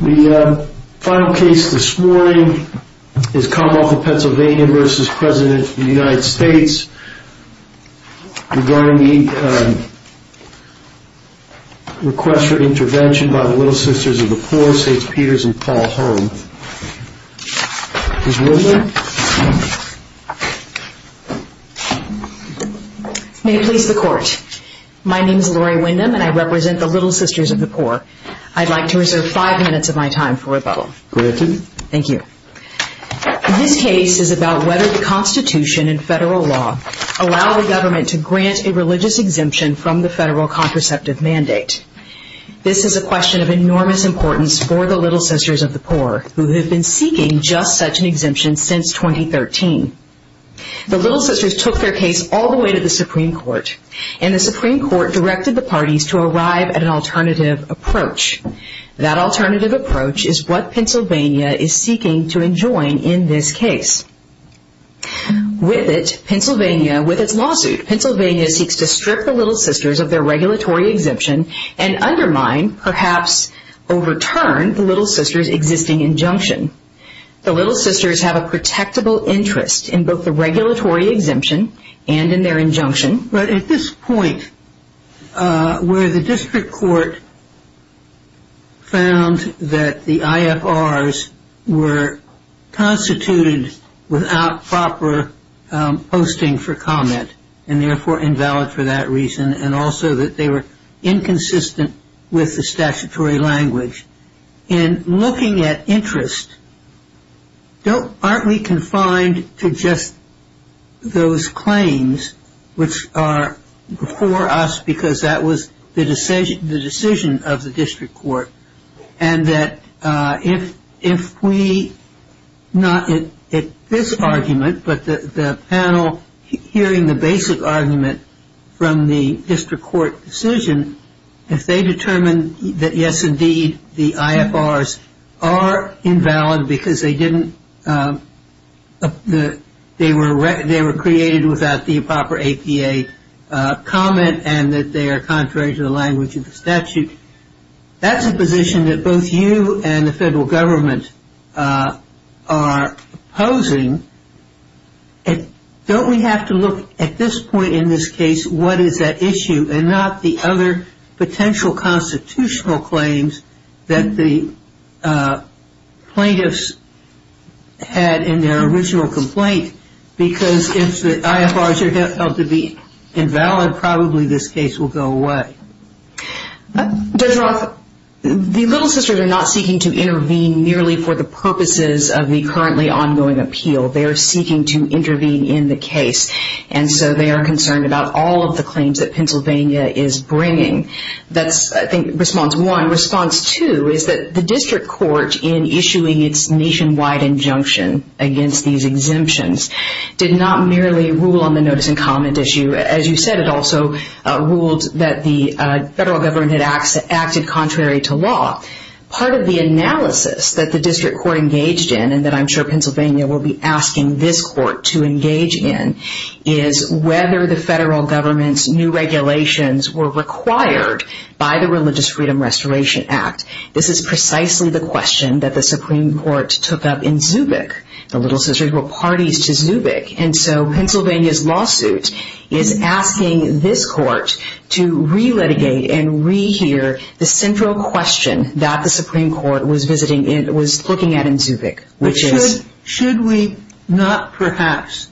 The final case this morning is Commonwealth of Pennsylvania v. President of the United States regarding the request for intervention by the Little Sisters of the Poor, St. Peter's and Paul Holm. Ms. Windham? May it please the Court. My name is Lori Windham and I represent the Little Sisters of the Poor. I'd like to reserve five minutes of my time for rebuttal. Granted. Thank you. This case is about whether the Constitution and federal law allow the government to grant a religious exemption from the federal contraceptive mandate. This is a question of enormous importance for the Little Sisters of the Poor who have been seeking just such an exemption since 2013. The Little Sisters took their case all the way to the Supreme Court and the Supreme Court directed the parties to arrive at an alternative approach. That alternative approach is what Pennsylvania is seeking to enjoin in this case. With it, Pennsylvania, with its lawsuit, Pennsylvania seeks to strip the Little Sisters of their regulatory exemption and undermine, perhaps overturn, the Little Sisters' existing injunction. The Little Sisters have a protectable interest in both the regulatory exemption and in their injunction. But at this point, where the district court found that the IFRs were constituted without proper posting for comment and, therefore, invalid for that reason and also that they were inconsistent with the statutory language, in looking at interest, aren't we confined to just those claims which are before us because that was the decision of the district court? And that if we, not at this argument, but the panel hearing the basic argument from the district court decision, if they determine that, yes, indeed, the IFRs are invalid because they were created without the proper APA comment and that they are contrary to the language of the statute, that's a position that both you and the federal government are opposing. Don't we have to look, at this point in this case, what is at issue and not the other potential constitutional claims that the plaintiffs had in their original complaint because if the IFRs are held to be invalid, probably this case will go away? Judge Roth, the Little Sisters are not seeking to intervene merely for the purposes of the currently ongoing appeal. They are seeking to intervene in the case. And so they are concerned about all of the claims that Pennsylvania is bringing. That's, I think, response one. Response two is that the district court, in issuing its nationwide injunction against these exemptions, did not merely rule on the notice and comment issue. As you said, it also ruled that the federal government had acted contrary to law. Part of the analysis that the district court engaged in, and that I'm sure Pennsylvania will be asking this court to engage in, is whether the federal government's new regulations were required by the Religious Freedom Restoration Act. This is precisely the question that the Supreme Court took up in Zubik. The Little Sisters were parties to Zubik. And so Pennsylvania's lawsuit is asking this court to re-litigate and re-hear the central question that the Supreme Court was looking at in Zubik. Should we not perhaps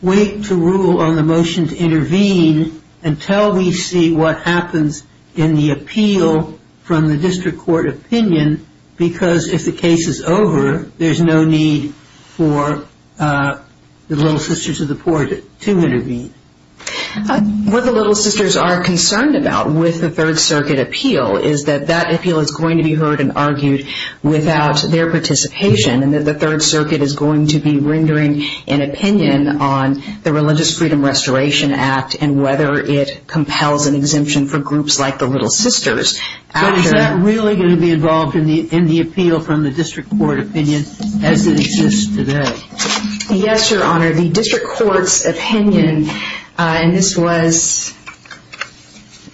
wait to rule on the motion to intervene until we see what happens in the appeal from the district court opinion? Because if the case is over, there's no need for the Little Sisters of the poor to intervene. What the Little Sisters are concerned about with the Third Circuit appeal is that that appeal is going to be heard and argued without their participation, and that the Third Circuit is going to be rendering an opinion on the Religious Freedom Restoration Act and whether it compels an exemption for groups like the Little Sisters. But is that really going to be involved in the appeal from the district court opinion as it exists today? Yes, Your Honor. The district court's opinion, and this was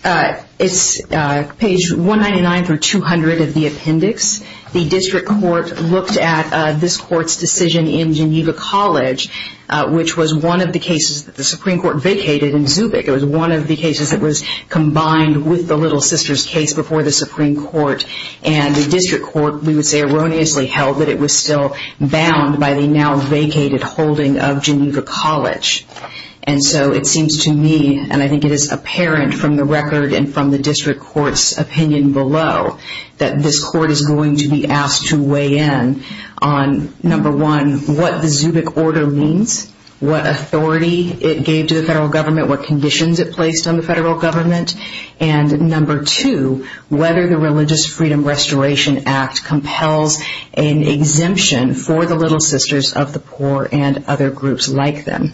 page 199 through 200 of the appendix. The district court looked at this court's decision in Geneva College, which was one of the cases that the Supreme Court vacated in Zubik. It was one of the cases that was combined with the Little Sisters case before the Supreme Court. And the district court, we would say erroneously, held that it was still bound by the now vacated holding of Geneva College. And so it seems to me, and I think it is apparent from the record and from the district court's opinion below, that this court is going to be asked to weigh in on, number one, what the Zubik order means, what authority it gave to the federal government, what conditions it placed on the federal government, and number two, whether the Religious Freedom Restoration Act compels an exemption for the Little Sisters of the poor and other groups like them.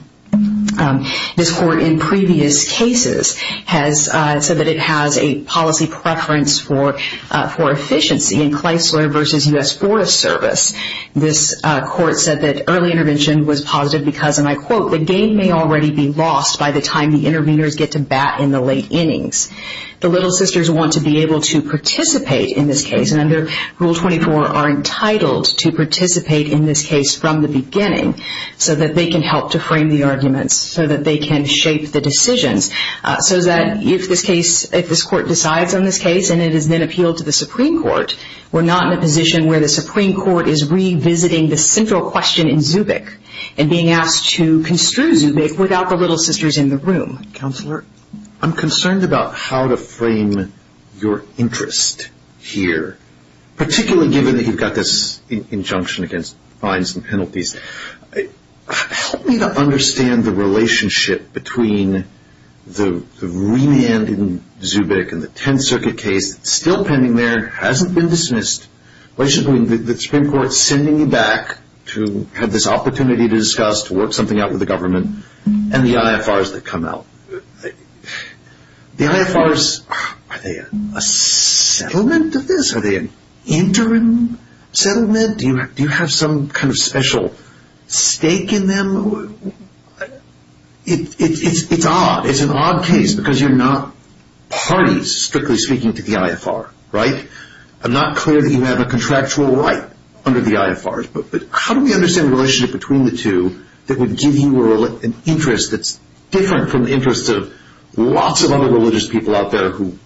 This court in previous cases has said that it has a policy preference for efficiency in Kleisler v. U.S. Forest Service. This court said that early intervention was positive because, and I quote, the game may already be lost by the time the interveners get to bat in the late innings. The Little Sisters want to be able to participate in this case, and under Rule 24 are entitled to participate in this case from the beginning so that they can help to frame the arguments, so that they can shape the decisions, so that if this court decides on this case and it is then appealed to the Supreme Court, we're not in a position where the Supreme Court is revisiting the central question in Zubik and being asked to construe Zubik without the Little Sisters in the room. Counselor, I'm concerned about how to frame your interest here, particularly given that you've got this injunction against fines and penalties. Help me to understand the relationship between the remand in Zubik and the Tenth Circuit case that's still pending there, hasn't been dismissed, the Supreme Court sending you back to have this opportunity to discuss, to work something out with the government, and the IFRs that come out. The IFRs, are they a settlement of this? Are they an interim settlement? Do you have some kind of special stake in them? It's odd. It's an odd case because you're not parties, strictly speaking, to the IFR, right? I'm not clear that you have a contractual right under the IFRs, but how do we understand the relationship between the two that would give you an interest that's different from the interests of lots of other religious people out there who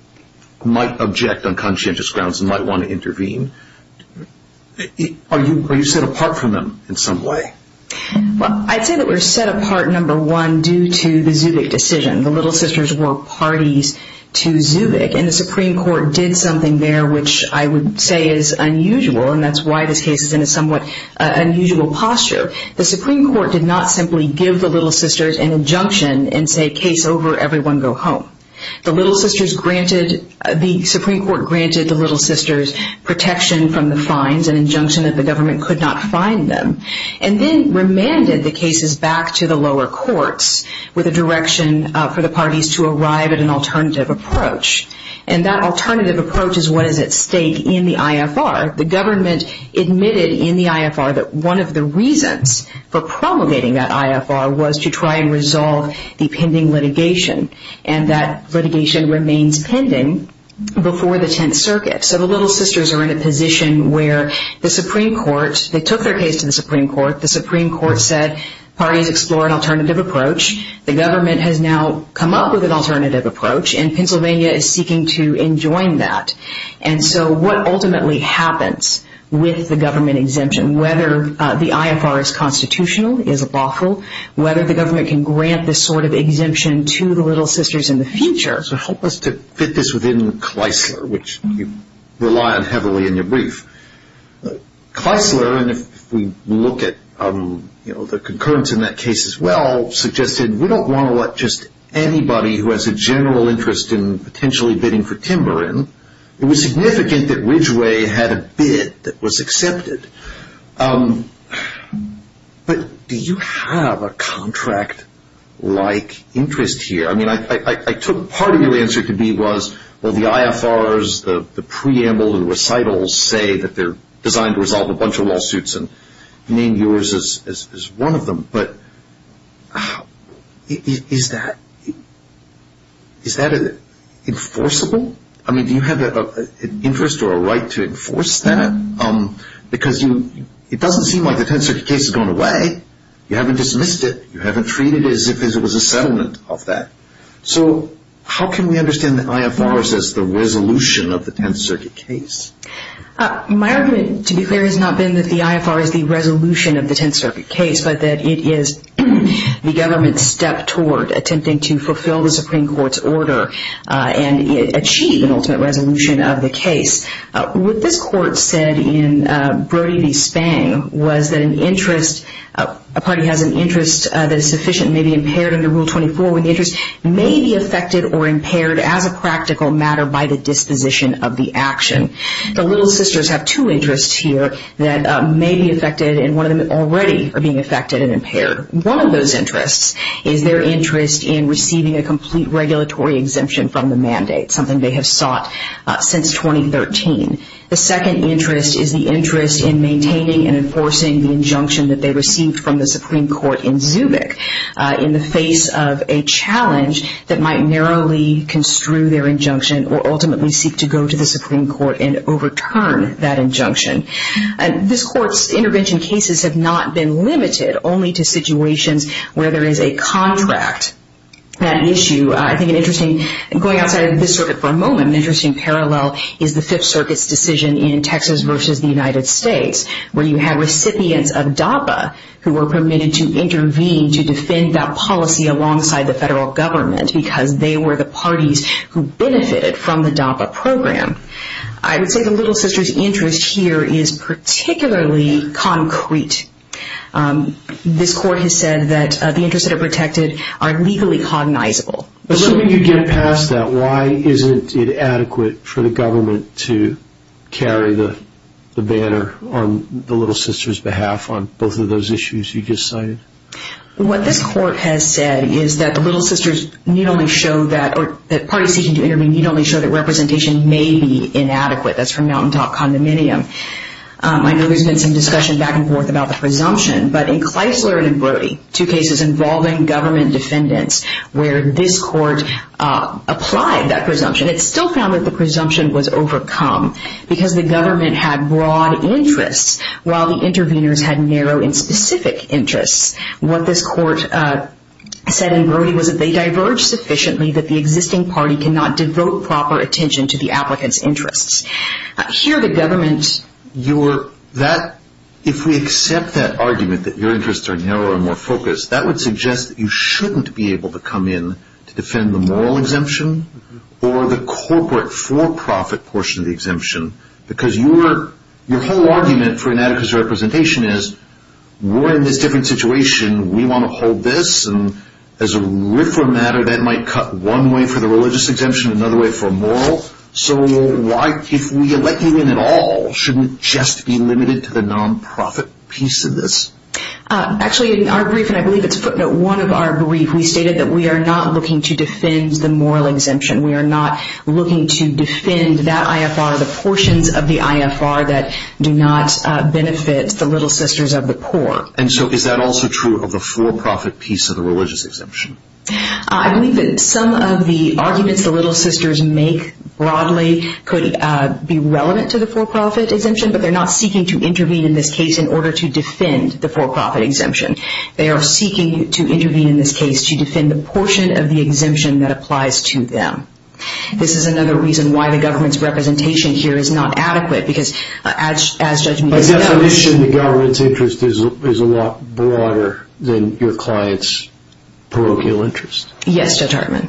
might object on conscientious grounds and might want to intervene? Are you set apart from them in some way? Well, I'd say that we're set apart, number one, due to the Zubik decision. The Little Sisters were parties to Zubik, and the Supreme Court did something there which I would say is unusual, and that's why this case is in a somewhat unusual posture. The Supreme Court did not simply give the Little Sisters an injunction and say, case over, everyone go home. The Supreme Court granted the Little Sisters protection from the fines, an injunction that the government could not fine them, and then remanded the cases back to the lower courts with a direction for the parties to arrive at an alternative approach. And that alternative approach is what is at stake in the IFR. The government admitted in the IFR that one of the reasons for promulgating that IFR was to try and resolve the pending litigation, and that litigation remains pending before the Tenth Circuit. So the Little Sisters are in a position where the Supreme Court, they took their case to the Supreme Court, the Supreme Court said parties explore an alternative approach. The government has now come up with an alternative approach, and Pennsylvania is seeking to enjoin that. And so what ultimately happens with the government exemption, whether the IFR is constitutional, is lawful, whether the government can grant this sort of exemption to the Little Sisters in the future. So help us to fit this within Kleisler, which you rely on heavily in your brief. Kleisler, and if we look at the concurrence in that case as well, suggested we don't want to let just anybody who has a general interest in potentially bidding for timber in. It was significant that Ridgway had a bid that was accepted. But do you have a contract-like interest here? I mean, I took part of your answer to be was, well, the IFRs, the preamble, the recitals say that they're designed to resolve a bunch of lawsuits, and you named yours as one of them, but is that enforceable? I mean, do you have an interest or a right to enforce that? Because it doesn't seem like the Tenth Circuit case has gone away. You haven't dismissed it. You haven't treated it as if it was a settlement of that. So how can we understand the IFRs as the resolution of the Tenth Circuit case? My argument, to be clear, has not been that the IFR is the resolution of the Tenth Circuit case, but that it is the government's step toward attempting to fulfill the Supreme Court's order and achieve an ultimate resolution of the case. What this Court said in Brody v. Spang was that an interest, a party has an interest that is sufficient and may be impaired under Rule 24 when the interest may be affected or impaired as a practical matter by the disposition of the action. The Little Sisters have two interests here that may be affected, and one of them already are being affected and impaired. One of those interests is their interest in receiving a complete regulatory exemption from the mandate, something they have sought since 2013. The second interest is the interest in maintaining and enforcing the injunction that they received from the Supreme Court in Zubik in the face of a challenge that might narrowly construe their injunction or ultimately seek to go to the Supreme Court and overturn that injunction. This Court's intervention cases have not been limited only to situations where there is a contract. That issue, I think an interesting, going outside of this circuit for a moment, an interesting parallel is the Fifth Circuit's decision in Texas v. the United States where you had recipients of DAPA who were permitted to intervene to defend that policy alongside the federal government because they were the parties who benefited from the DAPA program. I would say the Little Sisters' interest here is particularly concrete. This Court has said that the interests that are protected are legally cognizable. Assuming you get past that, why isn't it adequate for the government to carry the banner on the Little Sisters' behalf on both of those issues you just cited? What this Court has said is that the Little Sisters' need only show that, or the parties seeking to intervene need only show that representation may be inadequate. That's from Mountaintop Condominium. I know there's been some discussion back and forth about the presumption, but in Kleisler and Brody, two cases involving government defendants, where this Court applied that presumption, it still found that the presumption was overcome because the government had broad interests while the interveners had narrow and specific interests. What this Court said in Brody was that they diverged sufficiently that the existing party cannot devote proper attention to the applicant's interests. If we accept that argument that your interests are narrow and more focused, that would suggest that you shouldn't be able to come in to defend the moral exemption or the corporate for-profit portion of the exemption, because your whole argument for inadequate representation is, we're in this different situation, we want to hold this, and as a refer matter, that might cut one way for the religious exemption, another way for moral. So if we elect you in at all, shouldn't it just be limited to the non-profit piece of this? Actually, in our brief, and I believe it's footnote one of our brief, we stated that we are not looking to defend the moral exemption. We are not looking to defend that IFR, the portions of the IFR that do not benefit the Little Sisters of the Poor. And so is that also true of the for-profit piece of the religious exemption? I believe that some of the arguments the Little Sisters make broadly could be relevant to the for-profit exemption, but they're not seeking to intervene in this case in order to defend the for-profit exemption. They are seeking to intervene in this case to defend the portion of the exemption that applies to them. This is another reason why the government's representation here is not adequate, My definition of the government's interest is a lot broader than your client's parochial interest. Yes, Judge Hartman.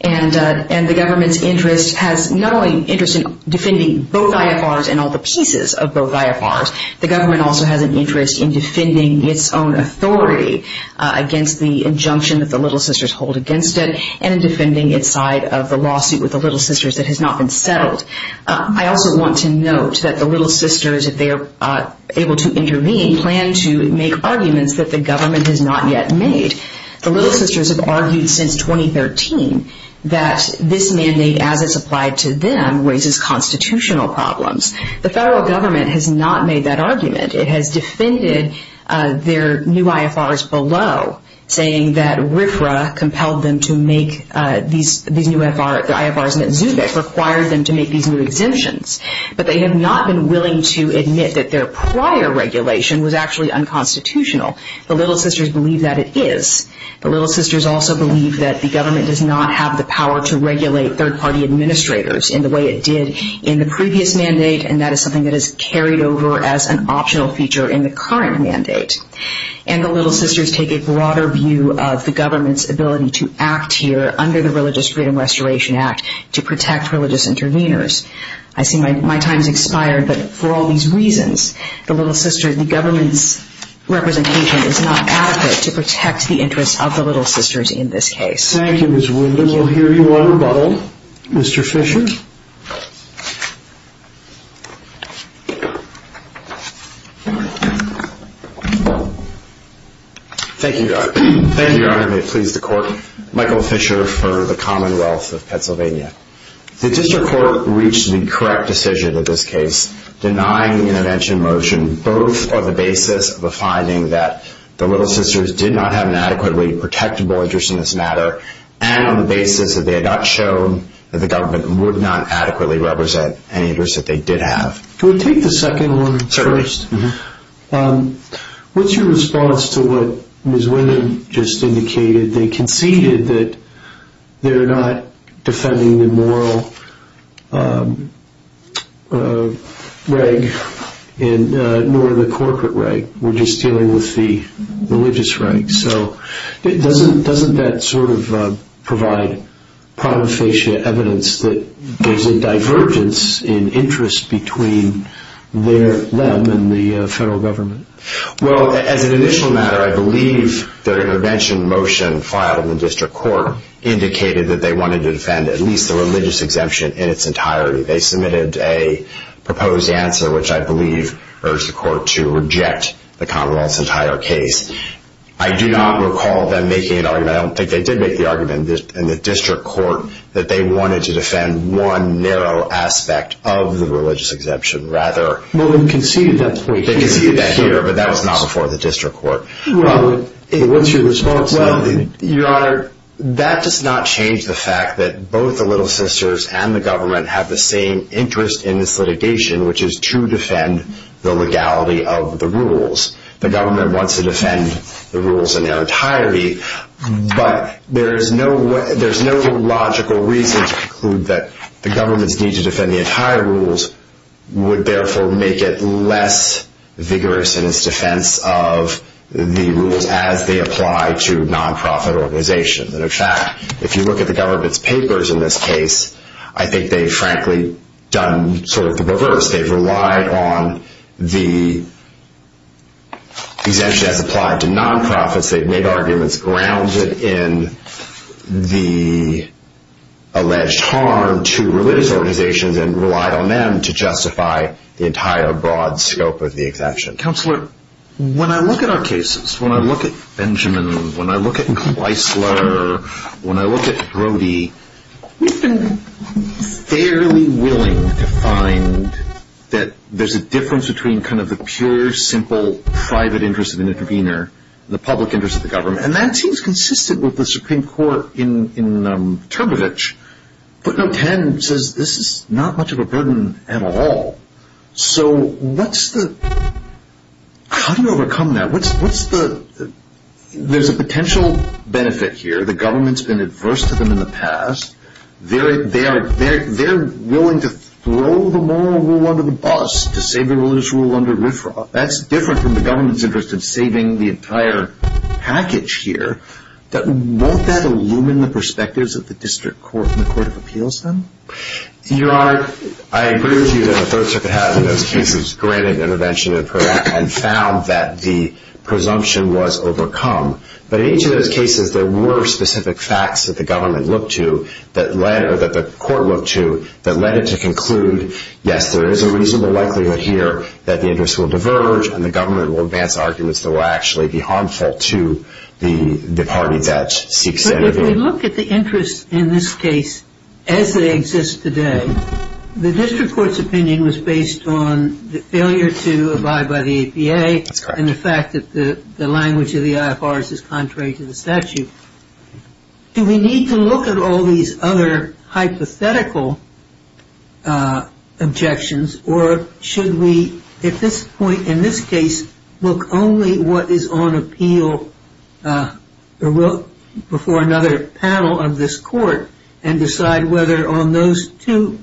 And the government's interest has not only an interest in defending both IFRs and all the pieces of both IFRs, the government also has an interest in defending its own authority against the injunction that the Little Sisters hold against it, and in defending its side of the lawsuit with the Little Sisters that has not been settled. I also want to note that the Little Sisters, if they are able to intervene, plan to make arguments that the government has not yet made. The Little Sisters have argued since 2013 that this mandate, as it's applied to them, raises constitutional problems. The federal government has not made that argument. It has defended their new IFRs below, saying that RFRA compelled them to make these new IFRs, saying that Zubik required them to make these new exemptions. But they have not been willing to admit that their prior regulation was actually unconstitutional. The Little Sisters believe that it is. The Little Sisters also believe that the government does not have the power to regulate third-party administrators in the way it did in the previous mandate, and that is something that is carried over as an optional feature in the current mandate. And the Little Sisters take a broader view of the government's ability to act here, under the Religious Freedom Restoration Act, to protect religious interveners. I see my time has expired, but for all these reasons, the Little Sisters, the government's representation is not adequate to protect the interests of the Little Sisters in this case. Thank you, Ms. Winder. We'll hear you on rebuttal. Mr. Fisher? Thank you, Your Honor. Thank you, Your Honor. May it please the Court. Michael Fisher for the Commonwealth of Pennsylvania. The District Court reached the correct decision in this case, denying the intervention motion, both on the basis of the finding that the Little Sisters did not have an adequately protectable interest in this matter, and on the basis that they had not shown that the government would not adequately represent any interest that they did have. Can we take the second one first? Certainly. What's your response to what Ms. Winder just indicated? They conceded that they're not defending the moral reg, nor the corporate reg. We're just dealing with the religious reg. So doesn't that sort of provide protofacia evidence that there's a divergence in interest between them and the federal government? Well, as an initial matter, I believe their intervention motion filed in the district court indicated that they wanted to defend at least the religious exemption in its entirety. They submitted a proposed answer, which I believe urged the court to reject the Commonwealth's entire case. I do not recall them making an argument. I don't think they did make the argument in the district court that they wanted to defend one narrow aspect of the religious exemption. Rather, they conceded that here, but that was not before the district court. What's your response to that? Your Honor, that does not change the fact that both the Little Sisters and the government have the same interest in this litigation, which is to defend the legality of the rules. The government wants to defend the rules in their entirety, but there's no logical reason to conclude that the government's need to defend the entire rules would therefore make it less vigorous in its defense of the rules as they apply to non-profit organizations. In fact, if you look at the government's papers in this case, I think they've frankly done sort of the reverse. They've relied on the exemption as applied to non-profits. They've made arguments grounded in the alleged harm to religious organizations and relied on them to justify the entire broad scope of the exemption. Counselor, when I look at our cases, when I look at Benjamin, when I look at Kleisler, when I look at Brody, we've been fairly willing to find that there's a difference between kind of the pure, simple, private interest of an intervener and the public interest of the government. And that seems consistent with the Supreme Court in Termovich. But No. 10 says this is not much of a burden at all. So what's the... how do you overcome that? What's the... there's a potential benefit here. The government's been adverse to them in the past. They're willing to throw the moral rule under the bus to save the religious rule under RFRA. That's different from the government's interest in saving the entire package here. Won't that illumine the perspectives of the district court and the court of appeals then? Your Honor, I agree with you that the Third Circuit has in those cases granted intervention and found that the presumption was overcome. But in each of those cases, there were specific facts that the government looked to that led... Yes, there is a reasonable likelihood here that the interest will diverge and the government will advance arguments that will actually be harmful to the party that seeks... But if we look at the interest in this case as they exist today, the district court's opinion was based on the failure to abide by the APA. That's correct. And the fact that the language of the IFR is contrary to the statute. Do we need to look at all these other hypothetical objections or should we at this point in this case look only what is on appeal before another panel of this court and decide whether on those two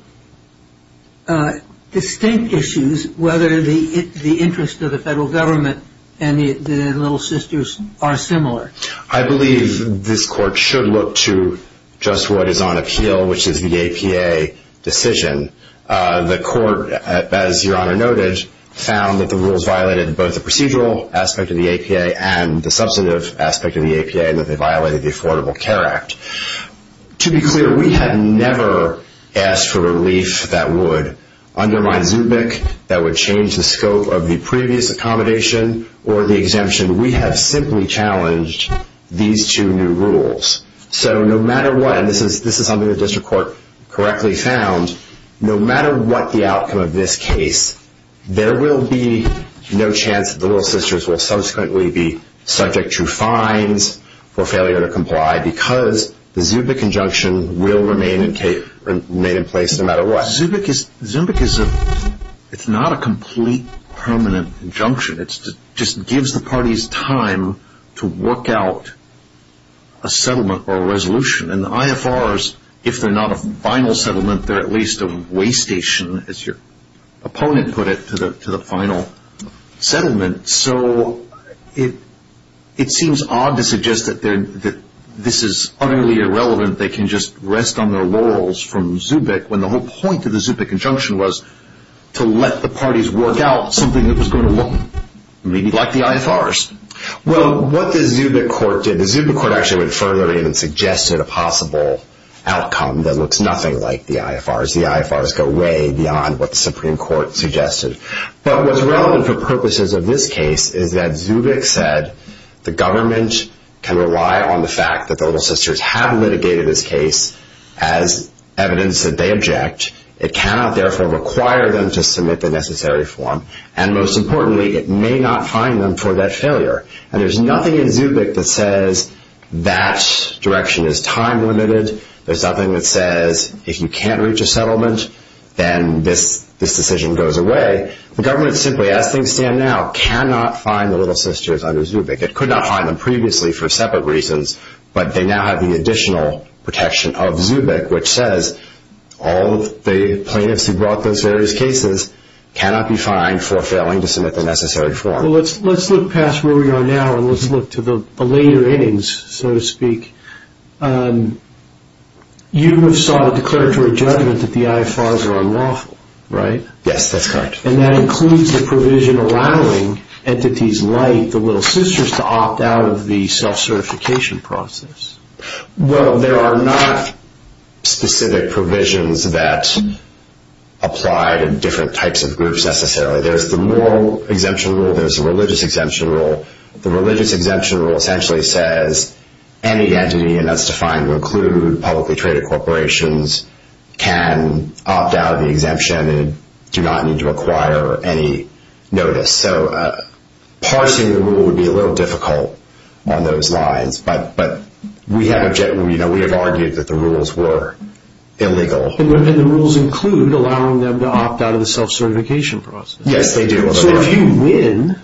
distinct issues, whether the interest of the federal government and the Little Sisters are similar? I believe this court should look to just what is on appeal, which is the APA decision. The court, as Your Honor noted, found that the rules violated both the procedural aspect of the APA and the substantive aspect of the APA and that they violated the Affordable Care Act. To be clear, we had never asked for relief that would undermine Zubik, that would change the scope of the previous accommodation or the exemption. We have simply challenged these two new rules. So no matter what, and this is something the district court correctly found, no matter what the outcome of this case, there will be no chance that the Little Sisters will subsequently be subject to fines or failure to comply because the Zubik injunction will remain in place no matter what. Zubik is not a complete permanent injunction. It just gives the parties time to work out a settlement or a resolution. And the IFRs, if they're not a final settlement, they're at least a way station, as your opponent put it, to the final settlement. So it seems odd to suggest that this is utterly irrelevant. They can just rest on their laurels from Zubik when the whole point of the Zubik injunction was to let the parties work out something that was going to look maybe like the IFRs. Well, what the Zubik court did, the Zubik court actually went further and suggested a possible outcome that looks nothing like the IFRs. The IFRs go way beyond what the Supreme Court suggested. But what's relevant for purposes of this case is that Zubik said the government can rely on the fact that the Little Sisters have litigated this case as evidence that they object. It cannot, therefore, require them to submit the necessary form. And most importantly, it may not fine them for that failure. And there's nothing in Zubik that says that direction is time-limited. There's nothing that says if you can't reach a settlement, then this decision goes away. The government simply, as things stand now, cannot fine the Little Sisters under Zubik. It could not fine them previously for separate reasons, but they now have the additional protection of Zubik, which says all the plaintiffs who brought those various cases cannot be fined for failing to submit the necessary form. Well, let's look past where we are now and let's look to the later innings, so to speak. You have sought a declaratory judgment that the IFRs are unlawful, right? Yes, that's correct. And that includes the provision allowing entities like the Little Sisters to opt out of the self-certification process. Well, there are not specific provisions that apply to different types of groups necessarily. There's the moral exemption rule, there's the religious exemption rule. The religious exemption rule essentially says any entity, and that's defined to include publicly traded corporations, can opt out of the exemption and do not need to acquire any notice. So parsing the rule would be a little difficult on those lines, but we have argued that the rules were illegal. And the rules include allowing them to opt out of the self-certification process. Yes, they do. So if you win,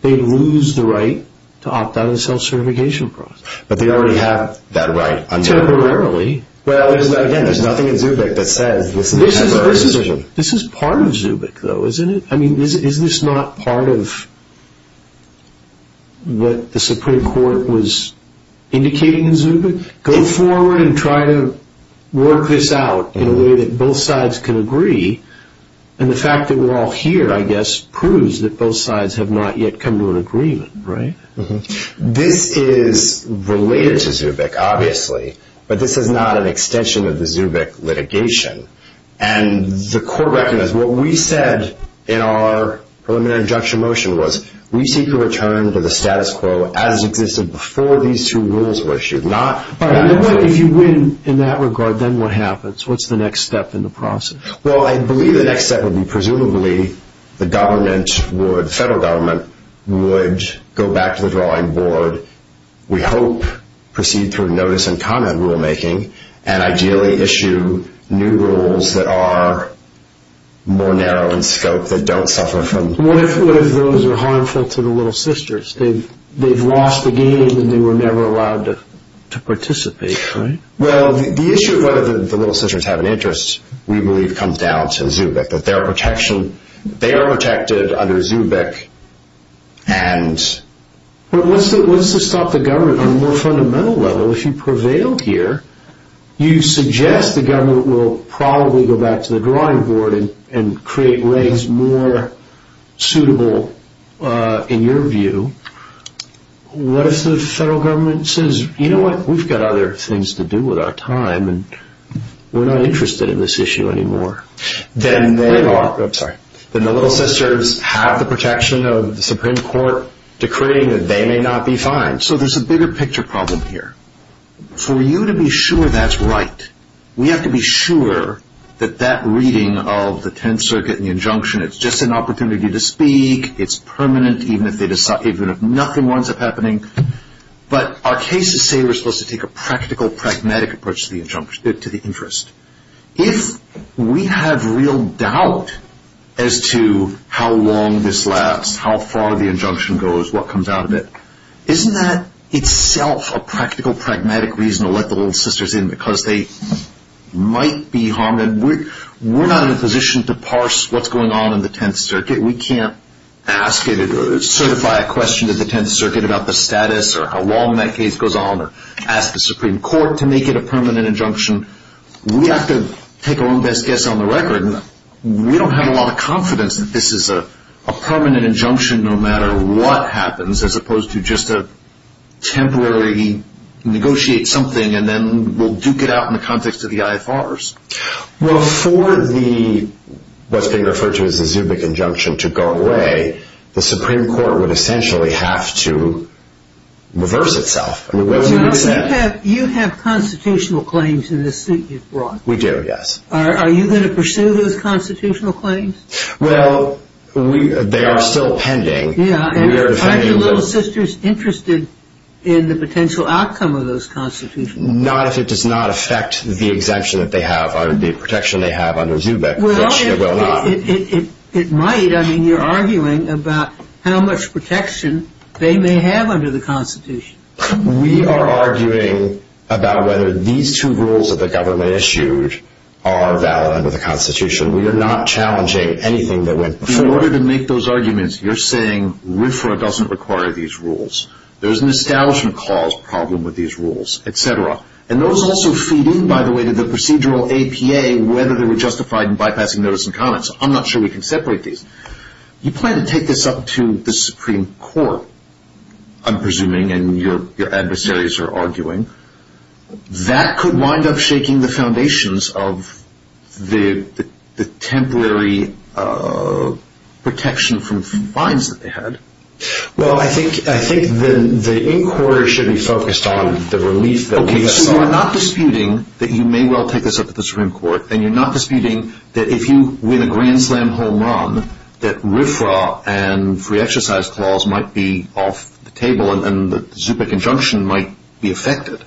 they lose the right to opt out of the self-certification process. But they already have that right. Temporarily. Well, again, there's nothing in Zubik that says this is a temporary decision. This is part of Zubik, though, isn't it? I mean, is this not part of what the Supreme Court was indicating in Zubik? Go forward and try to work this out in a way that both sides can agree. And the fact that we're all here, I guess, proves that both sides have not yet come to an agreement, right? This is related to Zubik, obviously, but this is not an extension of the Zubik litigation. And the court recognizes what we said in our preliminary injunction motion was we seek to return to the status quo as existed before these two rules were issued. If you win in that regard, then what happens? What's the next step in the process? Well, I believe the next step would be presumably the government, the federal government would go back to the drawing board, we hope proceed through notice and comment rulemaking, and ideally issue new rules that are more narrow in scope, that don't suffer from... What if those are harmful to the Little Sisters? They've lost the game and they were never allowed to participate, right? Well, the issue of whether the Little Sisters have an interest, we believe, comes down to Zubik, that they are protected under Zubik and... But what's to stop the government on a more fundamental level? If you prevail here, you suggest the government will probably go back to the drawing board and create ways more suitable, in your view. What if the federal government says, you know what, we've got other things to do with our time and we're not interested in this issue anymore? Then the Little Sisters have the protection of the Supreme Court, decreeing that they may not be fined. So there's a bigger picture problem here. For you to be sure that's right, we have to be sure that that reading of the Tenth Circuit and the injunction, it's just an opportunity to speak, it's permanent, even if nothing winds up happening. But our cases say we're supposed to take a practical, pragmatic approach to the interest. If we have real doubt as to how long this lasts, how far the injunction goes, what comes out of it, isn't that itself a practical, pragmatic reason to let the Little Sisters in because they might be harmed? We're not in a position to parse what's going on in the Tenth Circuit. We can't ask it or certify a question to the Tenth Circuit about the status or how long that case goes on or ask the Supreme Court to make it a permanent injunction. We have to take our own best guess on the record. We don't have a lot of confidence that this is a permanent injunction no matter what happens as opposed to just a temporary negotiate something and then we'll duke it out in the context of the IFRs. Well, for what's being referred to as the Zubik injunction to go away, the Supreme Court would essentially have to reverse itself. You have constitutional claims in the suit you've brought. We do, yes. Are you going to pursue those constitutional claims? Well, they are still pending. Are the Little Sisters interested in the potential outcome of those constitutional claims? Not if it does not affect the exemption that they have, the protection they have under Zubik, which it will not. It might. David, I mean, you're arguing about how much protection they may have under the Constitution. We are arguing about whether these two rules that the government issued are valid under the Constitution. We are not challenging anything that went before. In order to make those arguments, you're saying RFRA doesn't require these rules. There's an establishment clause problem with these rules, et cetera. And those also feed in, by the way, to the procedural APA, whether they were justified in bypassing notice and comments. I'm not sure we can separate these. You plan to take this up to the Supreme Court, I'm presuming, and your adversaries are arguing. That could wind up shaking the foundations of the temporary protection from fines that they had. Well, I think the inquiry should be focused on the relief that we have suffered. Okay, so you're not disputing that you may well take this up to the Supreme Court, and you're not disputing that if you win a Grand Slam home run, that RFRA and free exercise clause might be off the table and the ZUPA conjunction might be affected.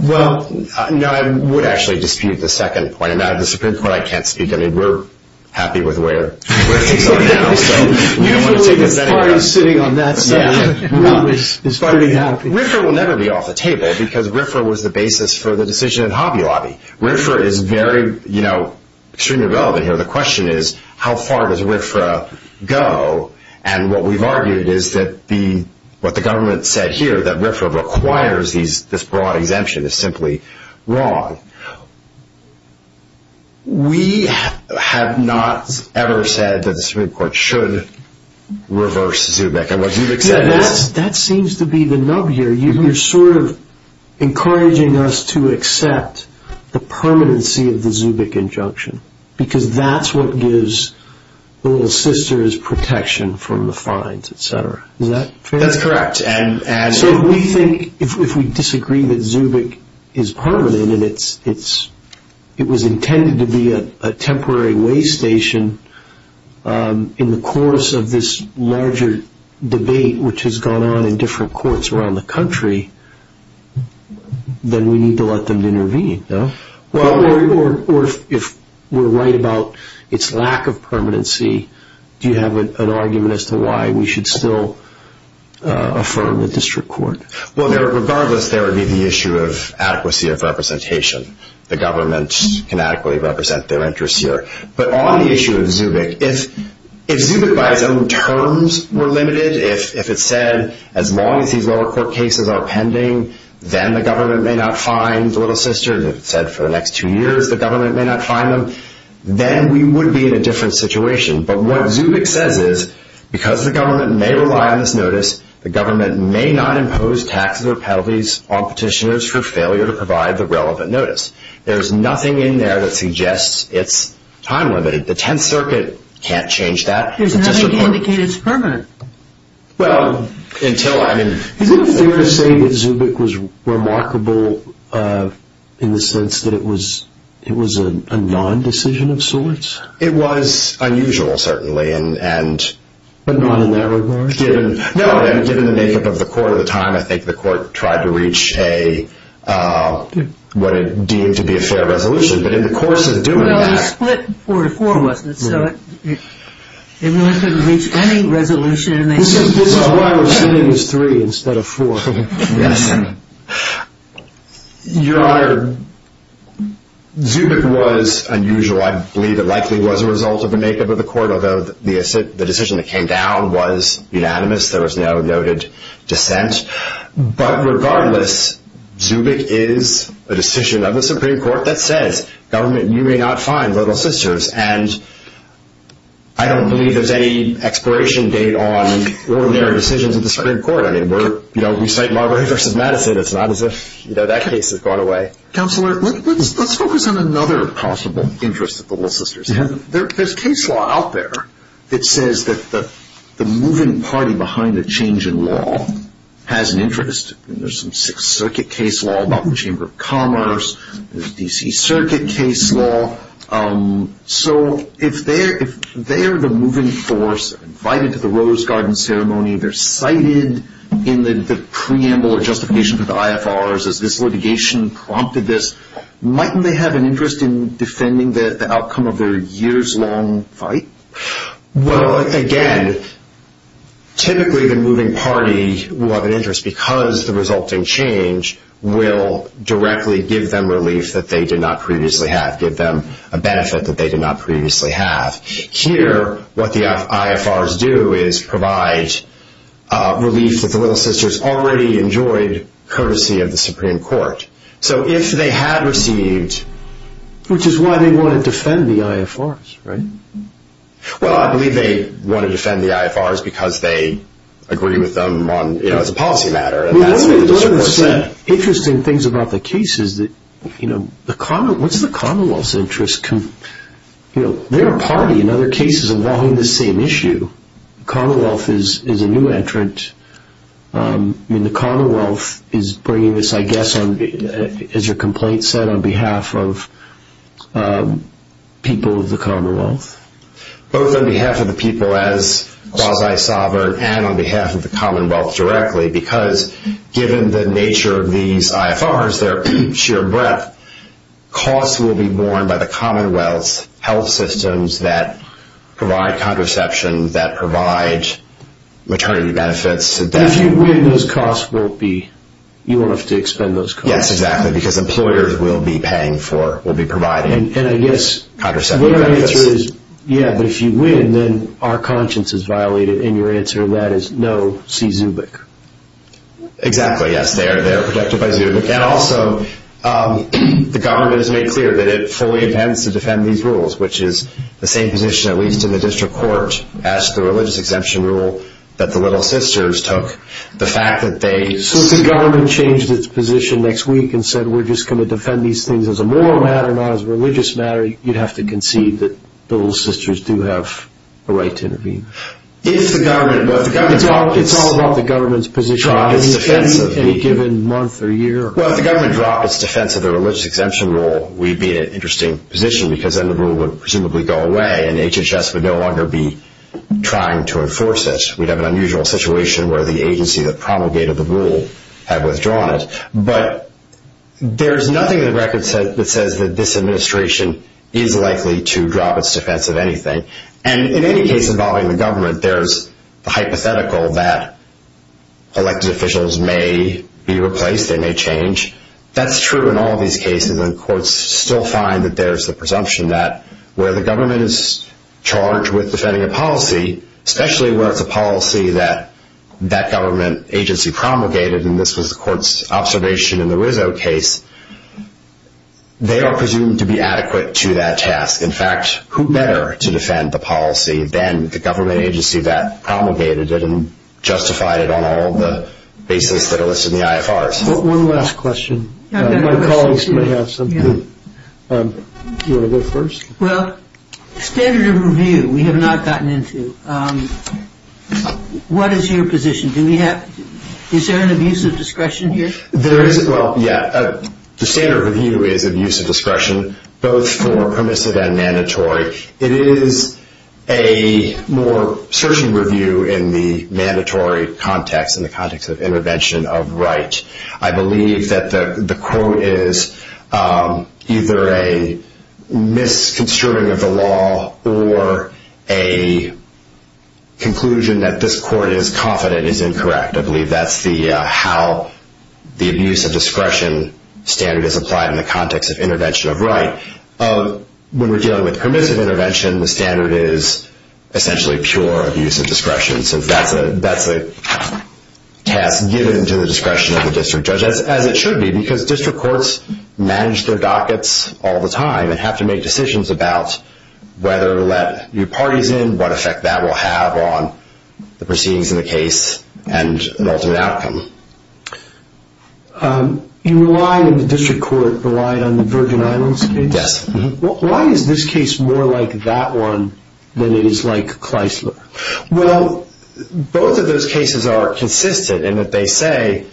Well, no, I would actually dispute the second point. And now the Supreme Court, I can't speak. I mean, we're happy with where things are now, so we don't want to take this anywhere else. Usually the party sitting on that side is pretty happy. RFRA will never be off the table because RFRA was the basis for the decision in Hobby Lobby. RFRA is very, you know, extremely relevant here. The question is, how far does RFRA go? And what we've argued is that what the government said here, that RFRA requires this broad exemption, is simply wrong. We have not ever said that the Supreme Court should reverse ZUBA. That seems to be the nub here. You're sort of encouraging us to accept the permanency of the ZUBIC injunction because that's what gives the Little Sisters protection from the fines, et cetera. Is that fair? That's correct. So we think if we disagree that ZUBIC is permanent and it was intended to be a temporary way station in the course of this larger debate which has gone on in different courts around the country, then we need to let them intervene, no? Or if we're right about its lack of permanency, do you have an argument as to why we should still affirm the district court? Well, regardless, there would be the issue of adequacy of representation. The government can adequately represent their interests here. But on the issue of ZUBIC, if ZUBIC by its own terms were limited, if it said as long as these lower court cases are pending, then the government may not fine the Little Sisters, if it said for the next two years the government may not fine them, then we would be in a different situation. But what ZUBIC says is because the government may rely on this notice, the government may not impose taxes or penalties on petitioners for failure to provide the relevant notice. There's nothing in there that suggests it's time-limited. The Tenth Circuit can't change that. There's nothing to indicate it's permanent. Well, until, I mean... Is it fair to say that ZUBIC was remarkable in the sense that it was a non-decision of sorts? It was unusual, certainly, and... But not in that regard? No, and given the makeup of the court at the time, I think the court tried to reach what it deemed to be a fair resolution. But in the course of doing that... Well, it was split four to four, wasn't it? So it wasn't going to reach any resolution. This is why we're saying it was three instead of four. Yes. Your Honor, ZUBIC was unusual. I believe it likely was a result of the makeup of the court, although the decision that came down was unanimous. There was no noted dissent. But regardless, ZUBIC is a decision of the Supreme Court that says, Government, you may not find little sisters. And I don't believe there's any expiration date on ordinary decisions of the Supreme Court. I mean, we're, you know, we cite Marbury v. Madison. It's not as if, you know, that case has gone away. Counselor, let's focus on another possible interest of the little sisters. There's case law out there that says that the moving party behind the change in law has an interest. There's some Sixth Circuit case law about the Chamber of Commerce. There's D.C. Circuit case law. So if they're the moving force invited to the Rose Garden ceremony, they're cited in the preamble or justification for the IFRs as this litigation prompted this. Mightn't they have an interest in defending the outcome of their years-long fight? Well, again, typically the moving party will have an interest because the resulting change will directly give them relief that they did not previously have, give them a benefit that they did not previously have. Here, what the IFRs do is provide relief that the little sisters already enjoyed courtesy of the Supreme Court. So if they had received... Which is why they want to defend the IFRs, right? Well, I believe they want to defend the IFRs because they agree with them on, you know, as a policy matter. One of the interesting things about the case is that, you know, what's the Commonwealth's interest? You know, they're a party in other cases involving the same issue. The Commonwealth is a new entrant. I mean, the Commonwealth is bringing this, I guess, as your complaint said, on behalf of people of the Commonwealth. Both on behalf of the people as quasi-sovereign and on behalf of the Commonwealth directly because given the nature of these IFRs, their sheer breadth, costs will be borne by the Commonwealth's health systems that provide contraception, that provide maternity benefits. If you win, those costs won't be... you won't have to expend those costs. Yes, exactly, because employers will be paying for, will be providing contraceptive benefits. Yeah, but if you win, then our conscience is violated, and your answer to that is no, see Zubik. Exactly, yes, they are protected by Zubik. And also, the government has made clear that it fully intends to defend these rules, which is the same position, at least in the district court, as the religious exemption rule that the Little Sisters took. The fact that they... So if the government changed its position next week and said we're just going to defend these things as a moral matter, not as a religious matter, you'd have to concede that the Little Sisters do have a right to intervene. If the government... It's all about the government's position on any given month or year. Well, if the government dropped its defense of the religious exemption rule, we'd be in an interesting position because then the rule would presumably go away, and HHS would no longer be trying to enforce it. We'd have an unusual situation where the agency that promulgated the rule had withdrawn it. But there's nothing in the record that says that this administration is likely to drop its defense of anything. And in any case involving the government, there's the hypothetical that elected officials may be replaced, they may change. That's true in all these cases, and courts still find that there's the presumption that where the government is charged with defending a policy, especially where it's a policy that that government agency promulgated, and this was the court's observation in the Rizzo case, they are presumed to be adequate to that task. In fact, who better to defend the policy than the government agency that promulgated it and justified it on all the bases that are listed in the IFRs? One last question. My colleagues may have some. Do you want to go first? Well, standard of review we have not gotten into. What is your position? Is there an abuse of discretion here? There isn't. Well, yeah. The standard of review is abuse of discretion, both for permissive and mandatory. It is a more searching review in the mandatory context, in the context of intervention of right. I believe that the quote is either a misconstruing of the law or a conclusion that this court is confident is incorrect. I believe that's how the abuse of discretion standard is applied in the context of intervention of right. When we're dealing with permissive intervention, the standard is essentially pure abuse of discretion, so that's a task given to the discretion of the district judge, as it should be, because district courts manage their dockets all the time and have to make decisions about whether to let new parties in, what effect that will have on the proceedings in the case and the ultimate outcome. You relied in the district court, relied on the Virgin Islands case. Yes. Why is this case more like that one than it is like Kleisler? Well, both of those cases are consistent in that they say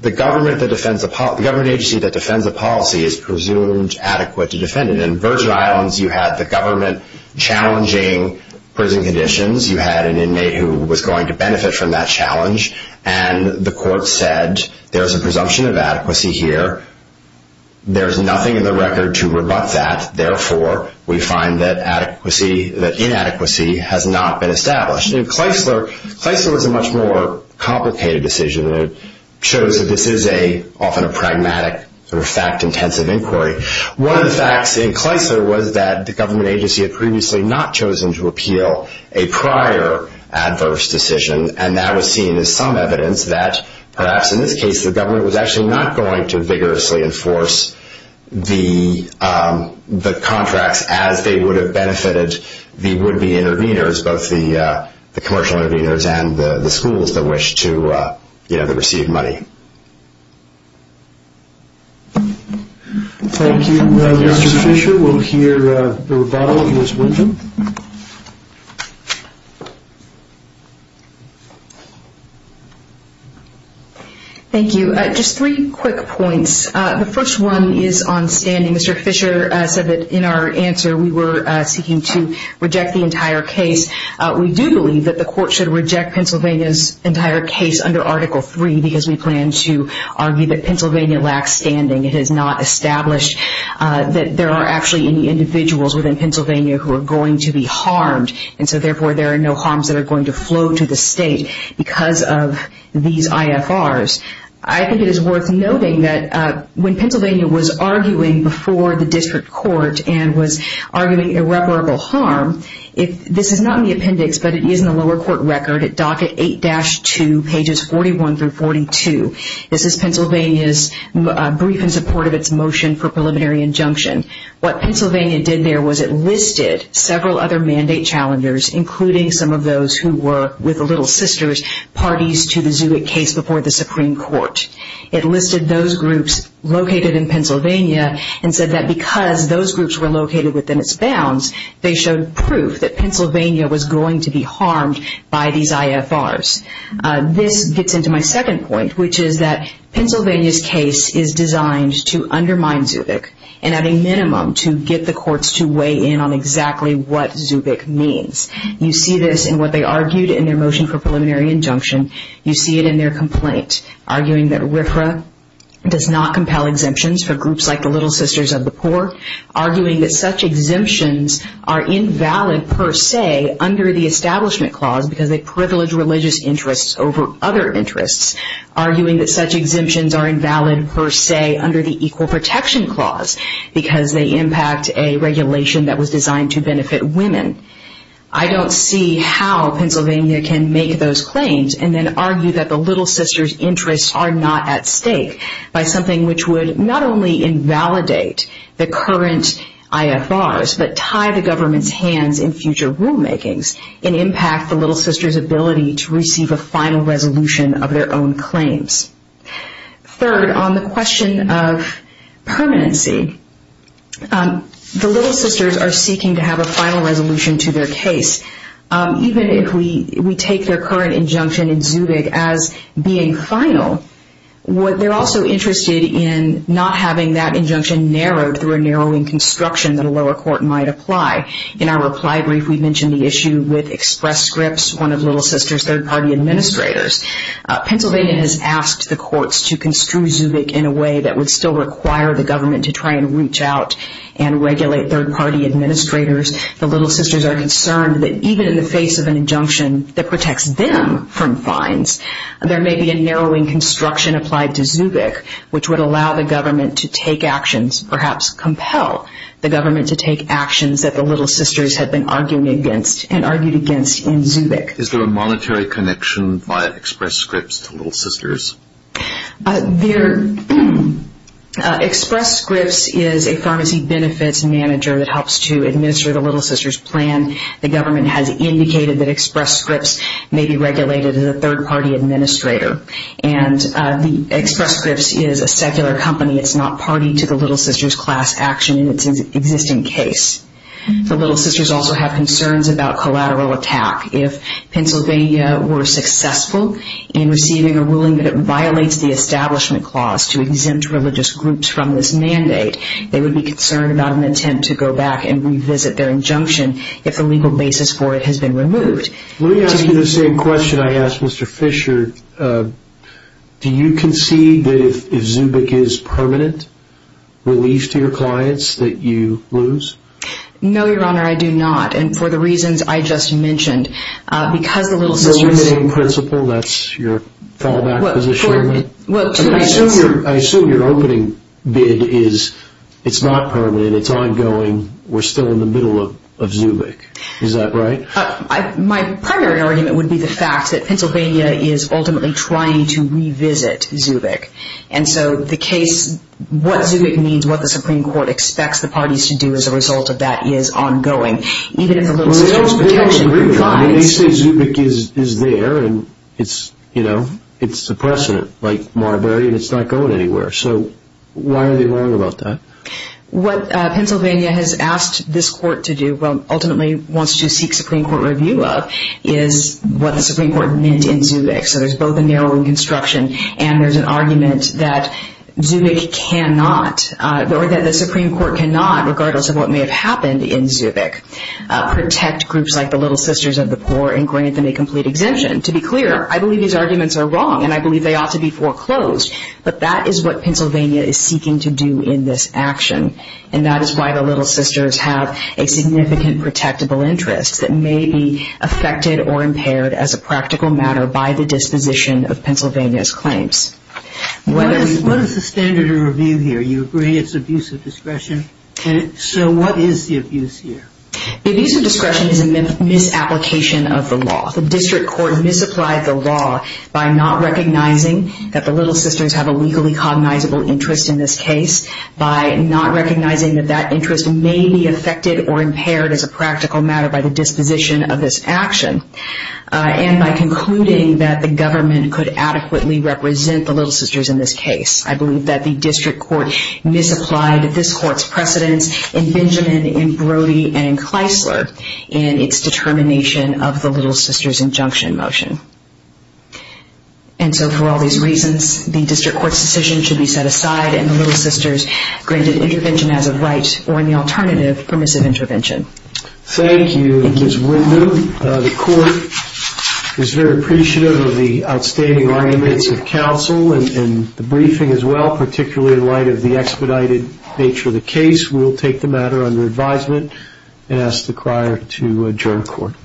the government agency that defends a policy is presumed adequate to defend it. In Virgin Islands, you had the government challenging prison conditions. You had an inmate who was going to benefit from that challenge, and the court said there's a presumption of adequacy here. There's nothing in the record to rebut that. Therefore, we find that inadequacy has not been established. In Kleisler, Kleisler was a much more complicated decision. It shows that this is often a pragmatic, fact-intensive inquiry. One of the facts in Kleisler was that the government agency had previously not chosen to appeal a prior adverse decision, and that was seen as some evidence that, perhaps in this case, the government was actually not going to vigorously enforce the contracts as they would have benefited the would-be intervenors, both the commercial intervenors and the schools that wish to receive money. Thank you, Mr. Fisher. We'll hear the rebuttal of Ms. Winton. Thank you. Just three quick points. The first one is on standing. Mr. Fisher said that in our answer we were seeking to reject the entire case. We do believe that the court should reject Pennsylvania's entire case under Article III because we plan to argue that Pennsylvania lacks standing. It is not established that there are actually any individuals within Pennsylvania who are going to be harmed, and so therefore there are no harms that are going to flow to the state because of these IFRs. I think it is worth noting that when Pennsylvania was arguing before the district court and was arguing irreparable harm, this is not in the appendix, but it is in the lower court record at docket 8-2, pages 41 through 42. This is Pennsylvania's brief in support of its motion for preliminary injunction. What Pennsylvania did there was it listed several other mandate challengers, including some of those who were with the Little Sisters parties to the Zubik case before the Supreme Court. It listed those groups located in Pennsylvania and said that because those groups were located within its bounds, they showed proof that Pennsylvania was going to be harmed by these IFRs. This gets into my second point, which is that Pennsylvania's case is designed to undermine Zubik and at a minimum to get the courts to weigh in on exactly what Zubik means. You see this in what they argued in their motion for preliminary injunction. You see it in their complaint, arguing that RFRA does not compel exemptions for groups like the Little Sisters of the Poor, arguing that such exemptions are invalid per se under the Establishment Clause because they privilege religious interests over other interests, arguing that such exemptions are invalid per se under the Equal Protection Clause because they impact a regulation that was designed to benefit women. I don't see how Pennsylvania can make those claims and then argue that the Little Sisters' interests are not at stake by something which would not only invalidate the current IFRs, but tie the government's hands in future rulemakings and impact the Little Sisters' ability to receive a final resolution of their own claims. Third, on the question of permanency, the Little Sisters are seeking to have a final resolution to their case. Even if we take their current injunction in Zubik as being final, they're also interested in not having that injunction narrowed through a narrowing construction that a lower court might apply. In our reply brief, we mentioned the issue with Express Scripts, one of Little Sisters' third-party administrators. Pennsylvania has asked the courts to construe Zubik in a way that would still require the government to try and reach out and regulate third-party administrators. The Little Sisters are concerned that even in the face of an injunction that protects them from fines, there may be a narrowing construction applied to Zubik which would allow the government to take actions, perhaps compel the government to take actions that the Little Sisters had been arguing against and argued against in Zubik. Is there a monetary connection via Express Scripts to Little Sisters? Express Scripts is a pharmacy benefits manager that helps to administer the Little Sisters' plan. The government has indicated that Express Scripts may be regulated as a third-party administrator. Express Scripts is a secular company. It's not party to the Little Sisters' class action in its existing case. The Little Sisters also have concerns about collateral attack. If Pennsylvania were successful in receiving a ruling that violates the Establishment Clause to exempt religious groups from this mandate, they would be concerned about an attempt to go back and revisit their injunction if the legal basis for it has been removed. Let me ask you the same question I asked Mr. Fisher. Do you concede that if Zubik is permanent relief to your clients that you lose? No, Your Honor, I do not. And for the reasons I just mentioned, because the Little Sisters... The limiting principle, that's your fallback position? I assume your opening bid is it's not permanent, it's ongoing, we're still in the middle of Zubik. Is that right? My primary argument would be the fact that Pennsylvania is ultimately trying to revisit Zubik. And so the case, what Zubik means, what the Supreme Court expects the parties to do as a result of that is ongoing. Well, they don't agree with that. They say Zubik is there and it's the precedent, like Marbury, and it's not going anywhere. So why are they wrong about that? What Pennsylvania has asked this Court to do, ultimately wants to seek Supreme Court review of, is what the Supreme Court meant in Zubik. So there's both a narrowing construction and there's an argument that Zubik cannot, or that the Supreme Court cannot, regardless of what may have happened in Zubik, protect groups like the Little Sisters of the Poor and grant them a complete exemption. To be clear, I believe these arguments are wrong and I believe they ought to be foreclosed, but that is what Pennsylvania is seeking to do in this action. And that is why the Little Sisters have a significant protectable interest that may be affected or impaired as a practical matter by the disposition of Pennsylvania's claims. What is the standard of review here? You agree it's abuse of discretion? So what is the abuse here? Abuse of discretion is a misapplication of the law. The district court misapplied the law by not recognizing that the Little Sisters have a legally cognizable interest in this case, by not recognizing that that interest may be affected or impaired as a practical matter by the disposition of this action, and by concluding that the government could adequately represent the Little Sisters in this case. I believe that the district court misapplied this court's precedence in Benjamin, in Brody, and in Kleisler in its determination of the Little Sisters' injunction motion. And so for all these reasons, the district court's decision should be set aside and the Little Sisters granted intervention as of right or, in the alternative, permissive intervention. Thank you, Ms. Windham. The court is very appreciative of the outstanding arguments of counsel and the briefing as well, particularly in light of the expedited nature of the case. We will take the matter under advisement and ask the crier to adjourn court.